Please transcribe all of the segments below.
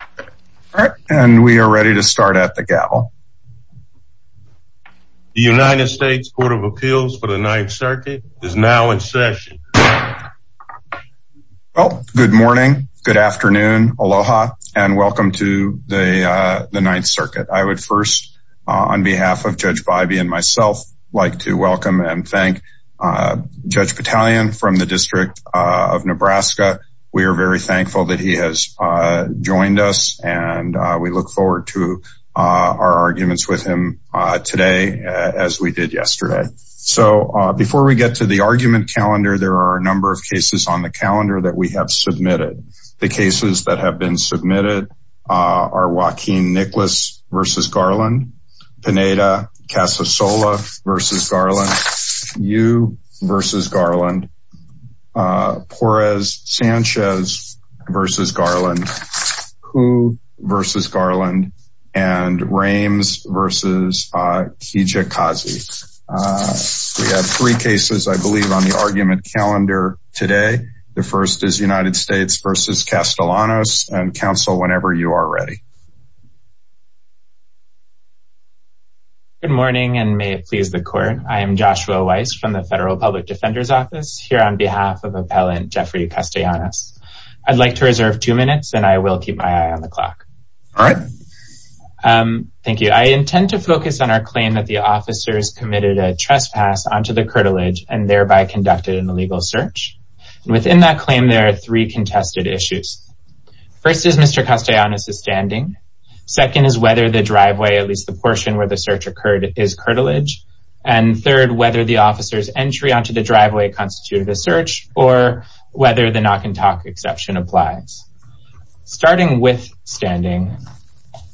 All right and we are ready to start at the gavel. The United States Court of Appeals for the Ninth Circuit is now in session. Well good morning, good afternoon, aloha and welcome to the the Ninth Circuit. I would first on behalf of Judge Bybee and myself like to welcome and thank Judge Battalion from the District of Nebraska. We are very thankful that he has joined us and we look forward to our arguments with him today as we did yesterday. So before we get to the argument calendar there are a number of cases on the calendar that we have submitted. The cases that have been submitted are Joaquin Nicholas versus Garland, Pineda Casasola versus Garland, Yu versus Garland, and Rames versus Kijikazi. We have three cases I believe on the argument calendar today. The first is United States versus Castellanos and counsel whenever you are ready. Good morning and may it please the court. I am Joshua Weiss from the Federal Public Defender's Office here on behalf of Appellant Jeffrey Castellanos. I'd like to reserve two minutes and I will keep my eye on the clock. All right. Thank you. I intend to focus on our claim that the officers committed a trespass onto the curtilage and thereby conducted an illegal search. Within that claim there are three contested issues. First is Mr. Castellanos' standing, second is whether the driveway at least the portion where the search occurred is curtilage, and third whether the officers entry onto the driveway constituted a search or whether the knock-and-talk exception applies. Starting with standing,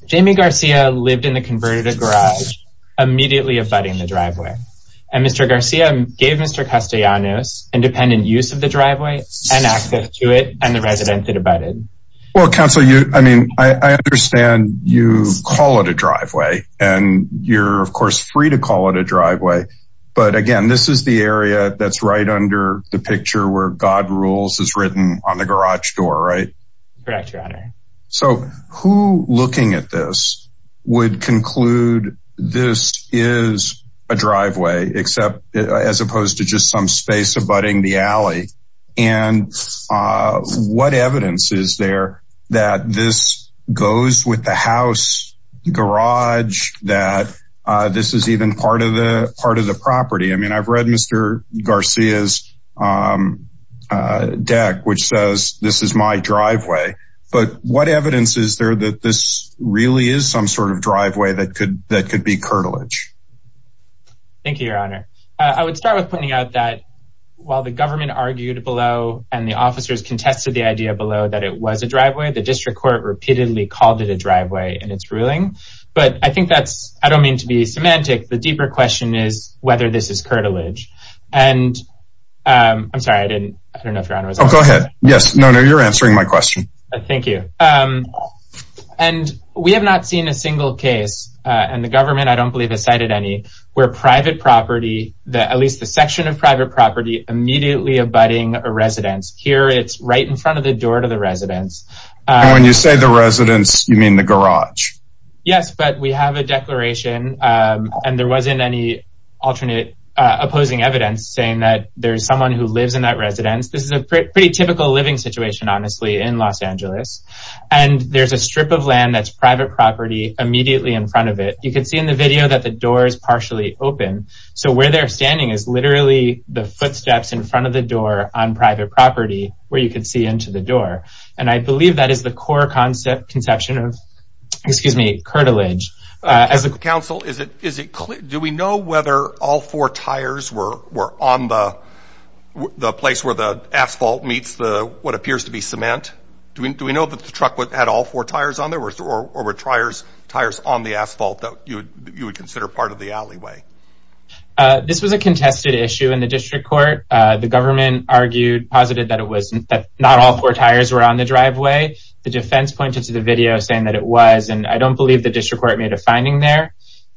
Jamie Garcia lived in the converted garage immediately abutting the driveway and Mr. Garcia gave Mr. Castellanos independent use of the driveway and access to it and the resident that abutted. Well counsel you I mean I understand you call it a driveway and you're of course free to call it a driveway but again this is the area that's right under the picture where God rules is written on the garage door right? Correct your honor. So who looking at this would conclude this is a driveway except as opposed to just some space abutting the alley and what evidence is there that this goes with the house garage that this is even part of the part of the property? I mean I've read Mr. Garcia's deck which says this is my driveway but what evidence is there that this really is some sort of driveway that could that could be curtilage? Thank you your honor. I would start with pointing out that while the government argued below and the officers contested the idea below that it was a driveway the district court repeatedly called it a driveway in its ruling but I think that's I don't mean to be semantic the deeper question is whether this is I'm sorry I didn't go ahead yes no no you're answering my question. Thank you and we have not seen a single case and the government I don't believe has cited any where private property that at least the section of private property immediately abutting a residence here it's right in front of the door to the residence. When you say the residence you mean the garage? Yes but we have a there's someone who lives in that residence this is a pretty typical living situation honestly in Los Angeles and there's a strip of land that's private property immediately in front of it you can see in the video that the door is partially open so where they're standing is literally the footsteps in front of the door on private property where you can see into the door and I believe that is the core concept conception of excuse me curtilage. As a council is it is it clear do we know whether all four tires were on the the place where the asphalt meets the what appears to be cement? Do we do we know that the truck would had all four tires on there or were tires tires on the asphalt that you would consider part of the alleyway? This was a contested issue in the district court the government argued posited that it wasn't that not all four tires were on the driveway the defense pointed to the video saying that it was and I don't believe the district court made a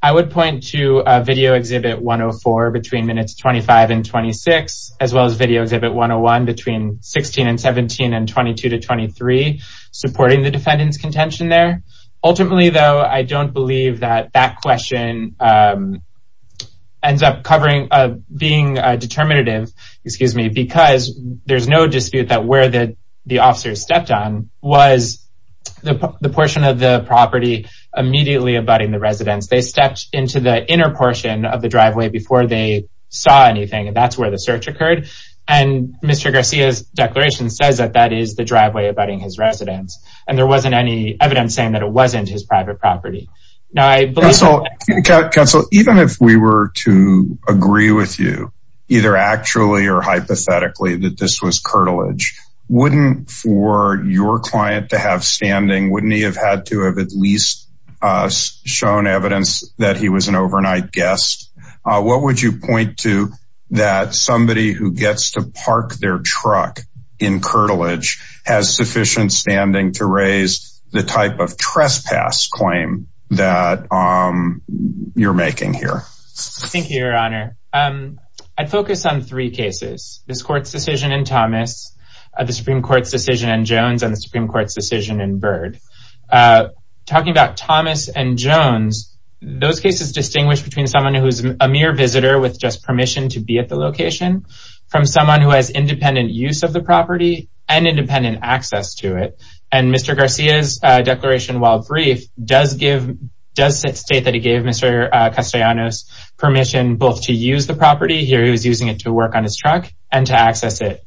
I would point to video exhibit 104 between minutes 25 and 26 as well as video exhibit 101 between 16 and 17 and 22 to 23 supporting the defendant's contention there ultimately though I don't believe that that question ends up covering being determinative excuse me because there's no dispute that where the the officers stepped on was the portion of the property immediately abutting the residents they stepped into the inner portion of the driveway before they saw anything and that's where the search occurred and Mr. Garcia's declaration says that that is the driveway abutting his residents and there wasn't any evidence saying that it wasn't his private property now I believe so council even if we were to agree with you either actually or hypothetically that this was curtilage wouldn't for your client to have standing wouldn't he have had to have at least shown evidence that he was an overnight guest what would you point to that somebody who gets to park their truck in curtilage has sufficient standing to raise the type of trespass claim that you're making here I'd focus on three cases this court's decision in Thomas at the Supreme Court's decision and Jones and the Supreme Court's decision in bird talking about Thomas and Jones those cases distinguish between someone who's a mere visitor with just permission to be at the location from someone who has independent use of the property and independent access to it and mr. Garcia's declaration while brief does give does it state that he gave mr. Castellanos permission both to use the property here he was using it to work on his truck and to access it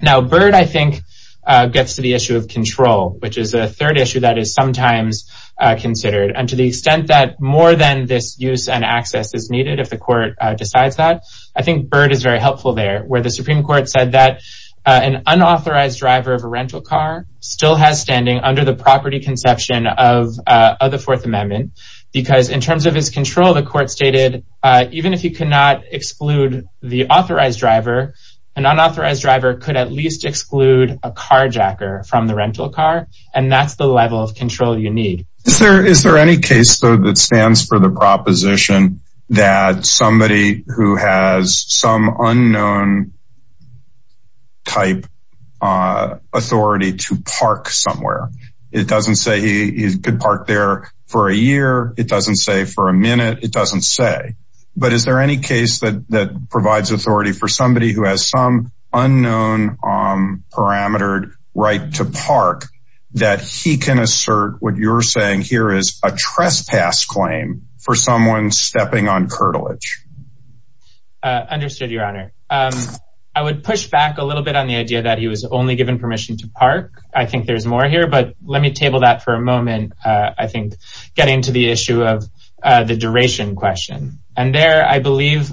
now bird I issue of control which is a third issue that is sometimes considered and to the extent that more than this use and access is needed if the court decides that I think bird is very helpful there where the Supreme Court said that an unauthorized driver of a rental car still has standing under the property conception of the Fourth Amendment because in terms of his control the court stated even if you cannot exclude the authorized driver an unauthorized driver could at least exclude a carjacker from the rental car and that's the level of control you need sir is there any case though that stands for the proposition that somebody who has some unknown type authority to park somewhere it doesn't say he could park there for a year it doesn't say for a minute it doesn't say but is there any case that that provides authority for some unknown parametered right to park that he can assert what you're saying here is a trespass claim for someone stepping on curtilage understood your honor I would push back a little bit on the idea that he was only given permission to park I think there's more here but let me table that for a moment I think getting to the issue of the duration question and there I believe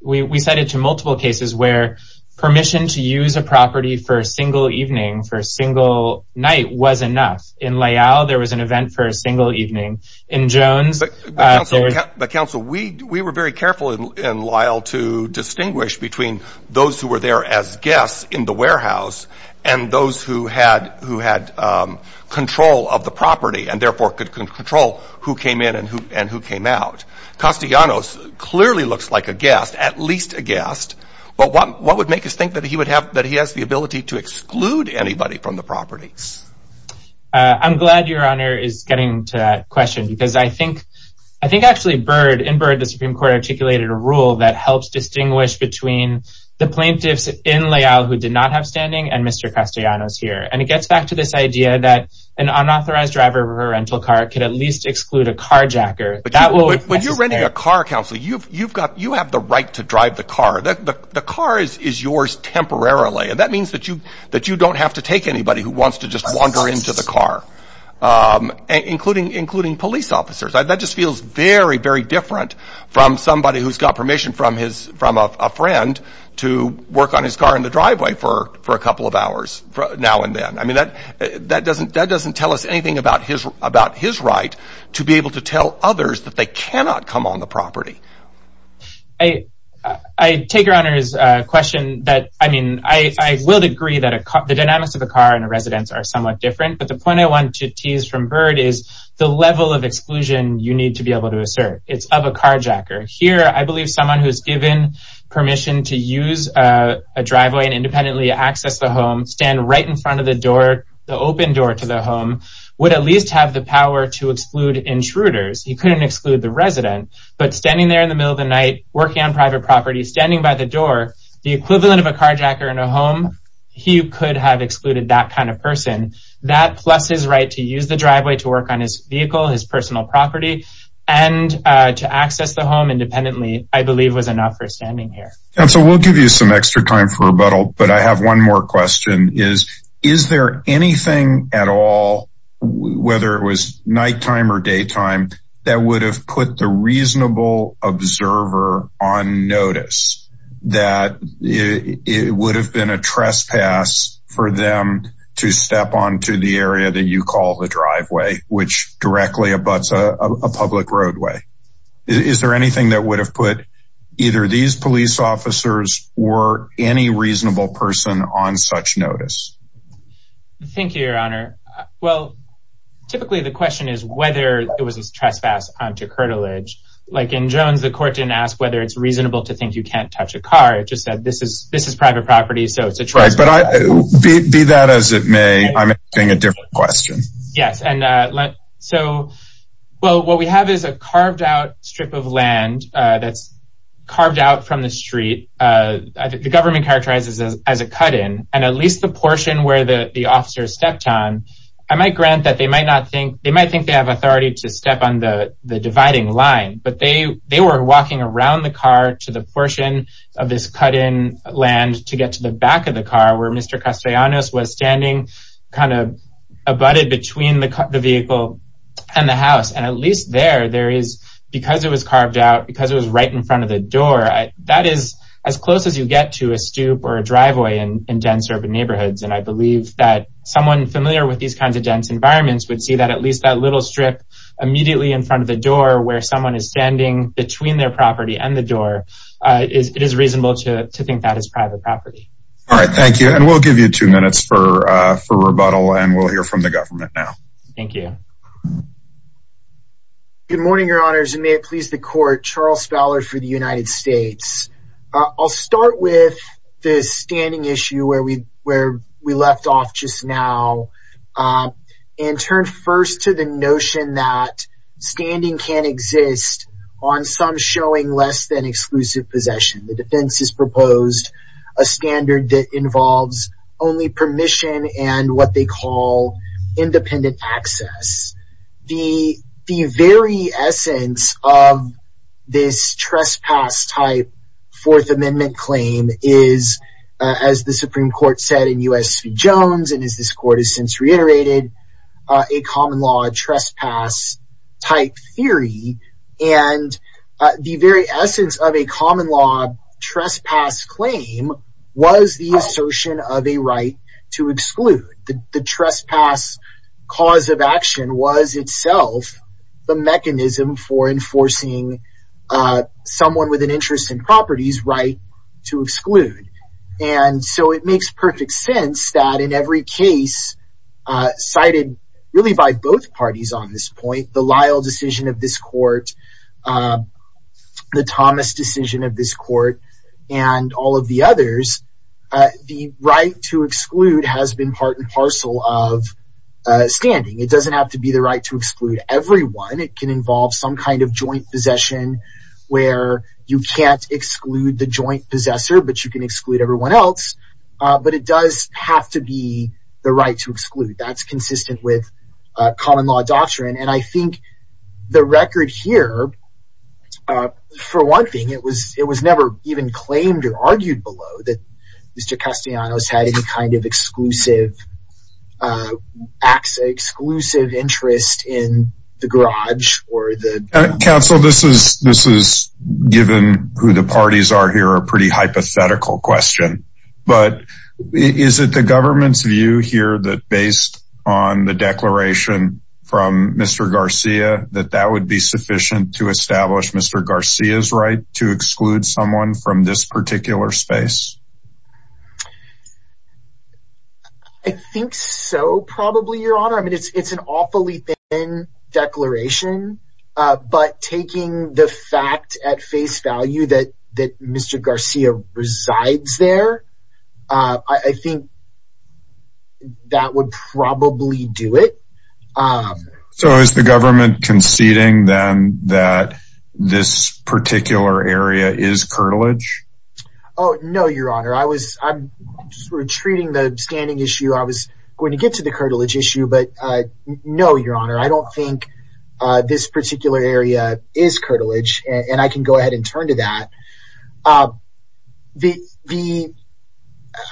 we said it to multiple cases where permission to use a property for a single evening for a single night was enough in layout there was an event for a single evening in Jones the council we we were very careful in Lyle to distinguish between those who were there as guests in the warehouse and those who had who had control of the property and therefore could control who came in and who came out clearly looks like a guest at least a guest but what would make us think that he would have that he has the ability to exclude anybody from the properties I'm glad your honor is getting to question because I think I think actually bird in bird the Supreme Court articulated a rule that helps distinguish between the plaintiffs in layout who did not have standing and mr. Castellanos here and it gets back to this idea that an unauthorized driver of a rental car could at least exclude a carjacker but when you're renting a car council you've you've got you have the right to drive the car that the car is is yours temporarily and that means that you that you don't have to take anybody who wants to just wander into the car including including police officers that just feels very very different from somebody who's got permission from his from a friend to work on his car in the driveway for for a couple of hours from now and then I mean that that doesn't that doesn't tell us anything about his about his right to be able to tell others that they cannot come on the property I I take your honor is a question that I mean I will agree that a cop the dynamics of a car and a residence are somewhat different but the point I want to tease from bird is the level of exclusion you need to be able to assert it's of a carjacker here I believe someone who's given permission to use a driveway and independently access the home stand right in front of the door the open door to the home would at least have the power to exclude intruders he couldn't exclude the resident but standing there in the middle of the night working on private property standing by the door the equivalent of a carjacker in a home he could have excluded that kind of person that plus his right to use the driveway to work on his vehicle his personal property and to access the home independently I believe was enough for standing here and so we'll give you some extra time for rebuttal but I have one more question is is there anything at all whether it was nighttime or daytime that would have put the reasonable observer on notice that it would have been a trespass for them to step on to the area that you call the driveway which directly abuts a public roadway is there anything that would have put either these police officers or any reasonable person on such notice thank you your honor well typically the question is whether it was a trespass onto curtilage like in Jones the court didn't ask whether it's reasonable to think you can't touch a car it just said this is this is private property so it's a trust but I be that as it may I'm asking a different question yes and so well what we have is a carved out strip of land that's carved out from the street the government characterizes as a cut-in and at least the portion where the the officers stepped on I might grant that they might not think they might think they have authority to step on the the dividing line but they they were walking around the car to the portion of this cut-in land to get to the back of the car where mr. Castellanos was standing kind of abutted between the vehicle and the house and at least there there is because it was carved out because it was right in front of the door I that is as close as you get to a stoop or a driveway and in dense urban neighborhoods and I believe that someone familiar with these kinds of dense environments would see that at least that little strip immediately in front of the door where someone is standing between their property and the door is it is reasonable to think that is private property all right thank you and we'll give you two minutes for for the government now thank you good morning your honors and may it please the court Charles Fowler for the United States I'll start with the standing issue where we where we left off just now and turn first to the notion that standing can exist on some showing less than exclusive possession the defense is independent access the the very essence of this trespass type fourth amendment claim is as the Supreme Court said in US Jones and as this court has since reiterated a common law trespass type theory and the very essence of a common law trespass claim was the assertion of a right to exclude the trespass cause of action was itself the mechanism for enforcing someone with an interest in properties right to exclude and so it makes perfect sense that in every case cited really by both parties on this point the Lyle decision of this court the Thomas decision of this court and all of the others the right to exclude has been part and parcel of standing it doesn't have to be the right to exclude everyone it can involve some kind of joint possession where you can't exclude the joint possessor but you can exclude everyone else but it does have to be the right to exclude that's consistent with common law doctrine and I think the thing it was it was never even claimed or argued below that mr. Castellanos had any kind of exclusive acts exclusive interest in the garage or the council this is this is given who the parties are here a pretty hypothetical question but is it the government's view here that based on the declaration from mr. Garcia that that would be sufficient to establish mr. Garcia's right to exclude someone from this particular space I think so probably your honor I mean it's it's an awfully thin declaration but taking the fact at face value that that Garcia resides there I think that would probably do it so is the government conceding then that this particular area is curtilage oh no your honor I was retreating the standing issue I was going to get to the curtilage issue but no your honor I don't think this particular area is curtilage and I can go ahead and turn to that the the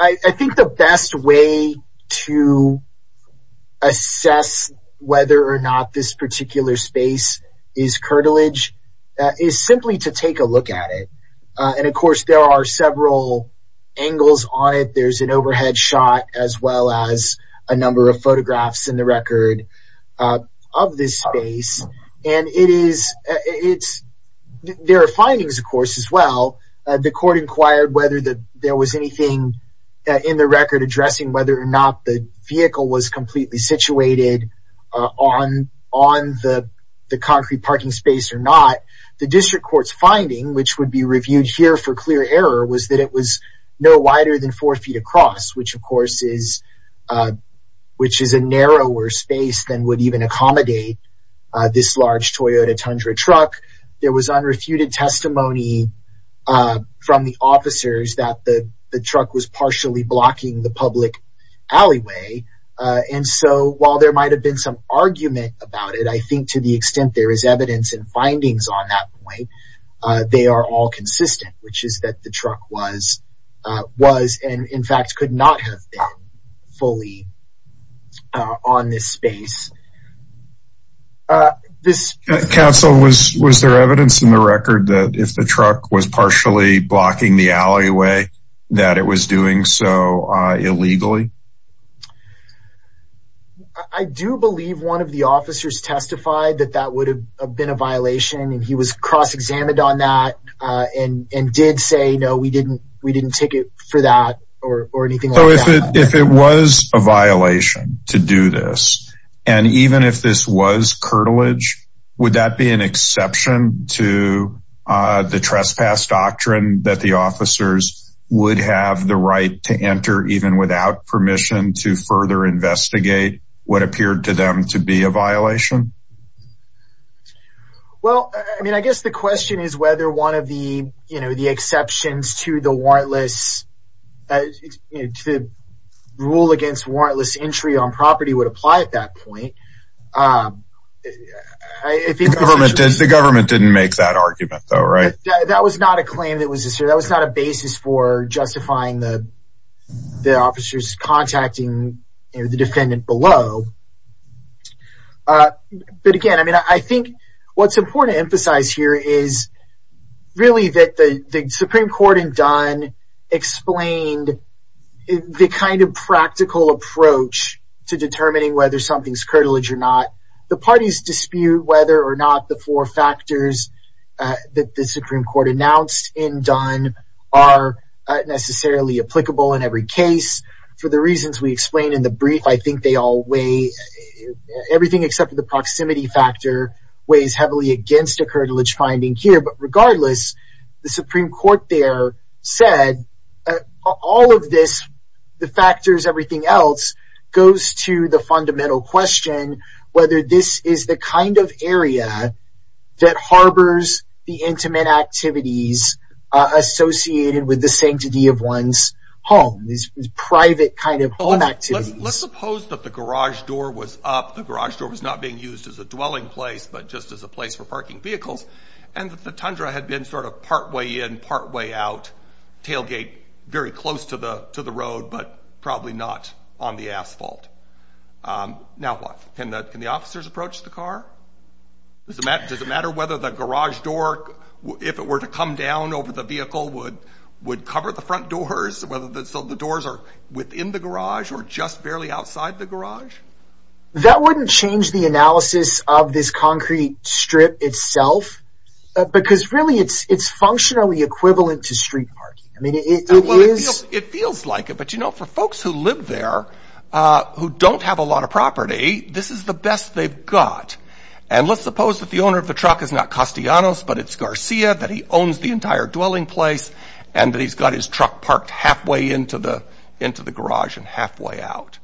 I think the best way to assess whether or not this particular space is curtilage is simply to take a look at it and of course there are several angles on it there's an overhead shot as well as a of course as well the court inquired whether that there was anything in the record addressing whether or not the vehicle was completely situated on on the the concrete parking space or not the district courts finding which would be reviewed here for clear error was that it was no wider than four feet across which of course is which is a narrower space than would even accommodate this large Toyota Tundra truck there was unrefuted testimony from the officers that the the truck was partially blocking the public alleyway and so while there might have been some argument about it I think to the extent there is evidence and findings on that point they are all consistent which is that the truck was was and in fact could not have fully on this space this council was was there evidence in the record that if the truck was partially blocking the alleyway that it was doing so illegally I do believe one of the officers testified that that would have been a violation and he was cross no we didn't we didn't take it for that or anything if it was a violation to do this and even if this was curtilage would that be an exception to the trespass doctrine that the officers would have the right to enter even without permission to further investigate what appeared to them to be a violation well I mean I guess the question is whether one of the you know to the warrantless rule against warrantless entry on property would apply at that point the government didn't make that argument though right that was not a claim that was this year that was not a basis for justifying the the officers contacting the defendant below but again I mean I think what's explained the kind of practical approach to determining whether something's curtilage or not the parties dispute whether or not the four factors that the Supreme Court announced in done are necessarily applicable in every case for the reasons we explained in the brief I think they all weigh everything except for the proximity factor weighs heavily against a curtilage finding here but the Supreme Court there said all of this the factors everything else goes to the fundamental question whether this is the kind of area that harbors the intimate activities associated with the sanctity of one's home these private kind of home activities suppose that the garage door was up the garage door was not being used as a dwelling place but just as a place for parking vehicles and the Tundra had been sort of partway in partway out tailgate very close to the to the road but probably not on the asphalt now what can that can the officers approach the car does it matter does it matter whether the garage door if it were to come down over the vehicle would would cover the front doors whether that's so the doors are within the garage or just barely outside the garage that wouldn't change the analysis of this concrete strip itself because really it's it's functionally equivalent to street it feels like it but you know for folks who live there who don't have a lot of property this is the best they've got and let's suppose that the owner of the truck is not Castellanos but it's Garcia that he owns the entire dwelling place and that he's got his truck parked halfway into the into the garage and halfway out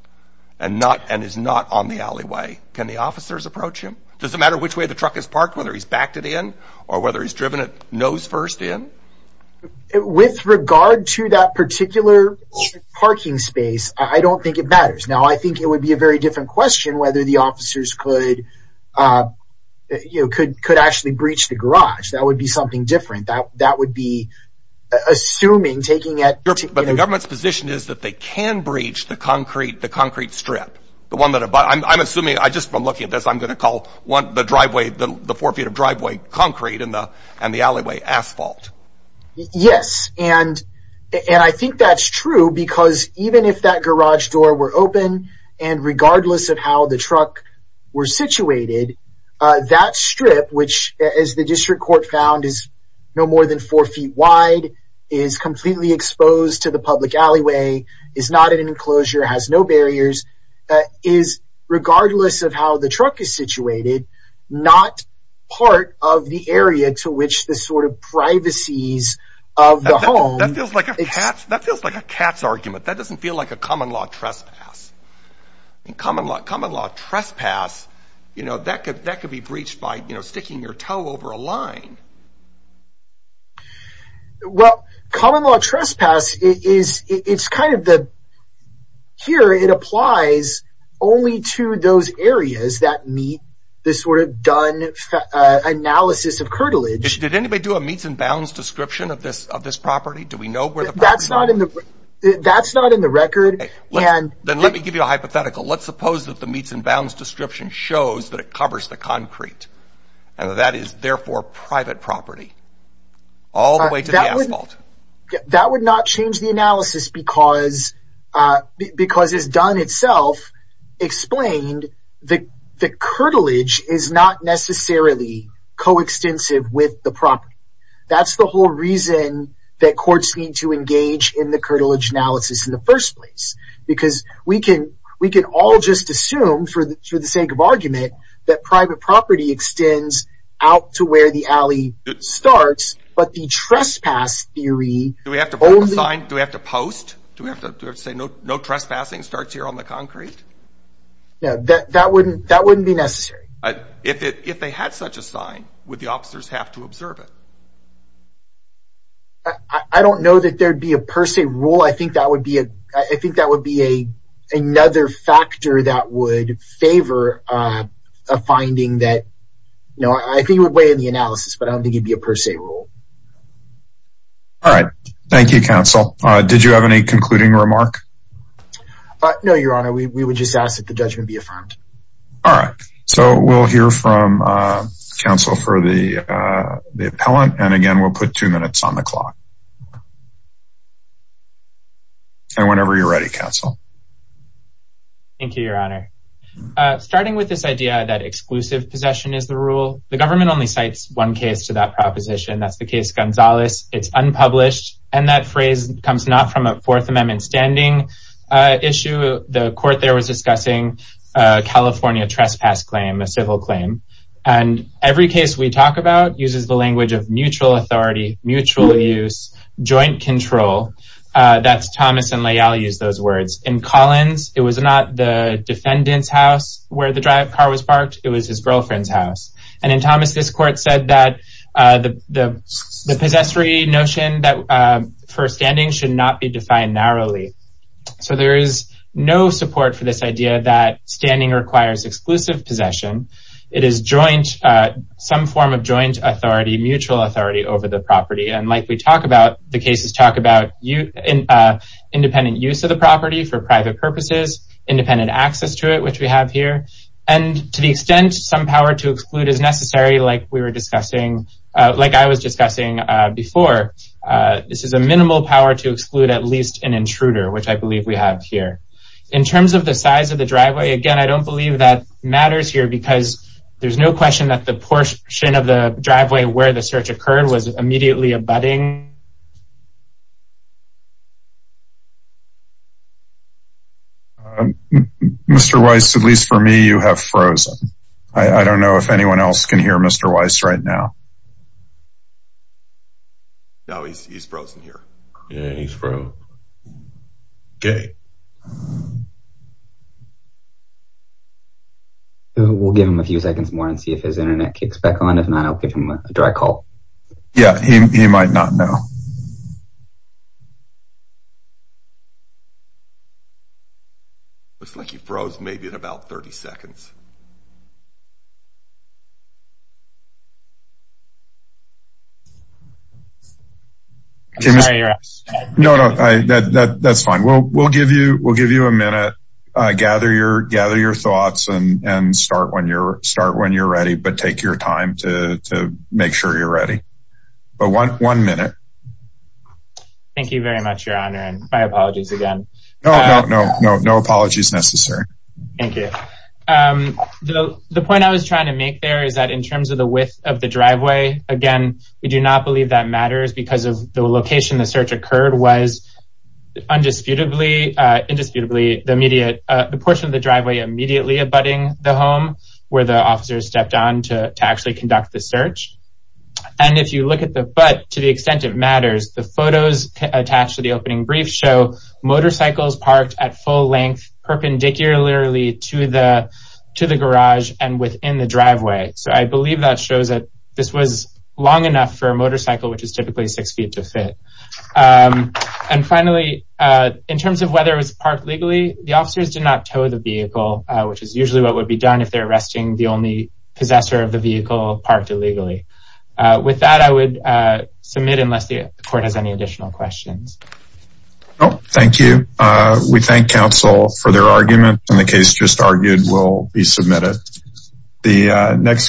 and not and is not on the alleyway can the officers approach him does it matter which way the truck is parked whether he's backed it in or whether he's driven it nose first in with regard to that particular parking space I don't think it matters now I think it would be a very different question whether the officers could you could could actually breach the garage that would be something different that that would be assuming taking it but the government's position is that they can the concrete the concrete strip the one that I'm assuming I just from looking at this I'm gonna call one the driveway the four feet of driveway concrete in the and the alleyway asphalt yes and and I think that's true because even if that garage door were open and regardless of how the truck were situated that strip which is the district court found is no more than four feet wide is completely exposed to the public alleyway is not an enclosure has no barriers is regardless of how the truck is situated not part of the area to which the sort of privacies of the home that feels like a cat that feels like a cat's argument that doesn't feel like a common-law trespass in common-law common-law trespass you know that could that could be breached by you know sticking your over a line well common-law trespass is it's kind of the here it applies only to those areas that meet this sort of done analysis of curtilage did anybody do a meets and bounds description of this of this property do we know where that's not in the that's not in the record and then let me give you a hypothetical let's suppose that the meets and bounds description shows that it covers the therefore private property all the way to the asphalt that would not change the analysis because because it's done itself explained the the curtilage is not necessarily coextensive with the property that's the whole reason that courts need to engage in the curtilage analysis in the first place because we can we can all just assume for the sake of argument that private property extends out to where the alley starts but the trespass theory do we have to sign do we have to post do we have to say no trespassing starts here on the concrete yeah that wouldn't that wouldn't be necessary but if it if they had such a sign with the officers have to observe it I don't know that there'd be a per se rule I think that would be a I think that would be a another factor that would favor a finding that no I think you would weigh in the analysis but I don't think it'd be a per se rule all right Thank You counsel did you have any concluding remark but no your honor we would just ask that the judgment be affirmed all right so we'll hear from counsel for the the appellant and again we'll put two minutes on the clock and whenever you're ready counsel thank you your honor starting with this idea that exclusive possession is the rule the government only cites one case to that proposition that's the case Gonzalez it's unpublished and that phrase comes not from a Fourth Amendment standing issue the court there was discussing California trespass claim a civil claim and every case we talked about uses the language of mutual authority mutual use joint control that's Thomas and Leigh I'll use those words in Collins it was not the defendant's house where the drive car was parked it was his girlfriend's house and in Thomas this court said that the the possessory notion that for standing should not be defined narrowly so there is no support for this idea that joint some form of joint authority mutual authority over the property and like we talked about the cases talk about you in independent use of the property for private purposes independent access to it which we have here and to the extent some power to exclude as necessary like we were discussing like I was discussing before this is a minimal power to exclude at least an intruder which I believe we have here in terms of the size of the no question that the portion of the driveway where the search occurred was immediately abutting mr. Weiss at least for me you have frozen I don't know if anyone else can hear mr. Weiss right now now he's frozen here yeah he's from okay we'll give him a few seconds more and see if his internet kicks back on if not I'll give him a dry call yeah he might not know looks like he froze maybe in about 30 seconds no no that's fine well we'll give you we'll give you a minute gather your gather your thoughts and and start when you're start when you're ready but take your time to make sure you're ready but one minute thank you very much your honor and my apologies again no no no no apologies necessary thank you the point I was trying to make there is that in terms of the width of the driveway again we do not believe that matters because of the location the search occurred was undisputably indisputably the immediate the portion of the driveway immediately abutting the home where the officers stepped on to actually conduct the search and if you look at the butt to the extent it matters the photos attached to the opening brief show motorcycles parked at full length perpendicularly to the to the garage and within the driveway so I this was long enough for a motorcycle which is typically six feet to fit and finally in terms of whether it was parked legally the officers did not tow the vehicle which is usually what would be done if they're arresting the only possessor of the vehicle parked illegally with that I would submit unless the court has any additional questions thank you we thank counsel for their argument and the case just argued will be submitted the next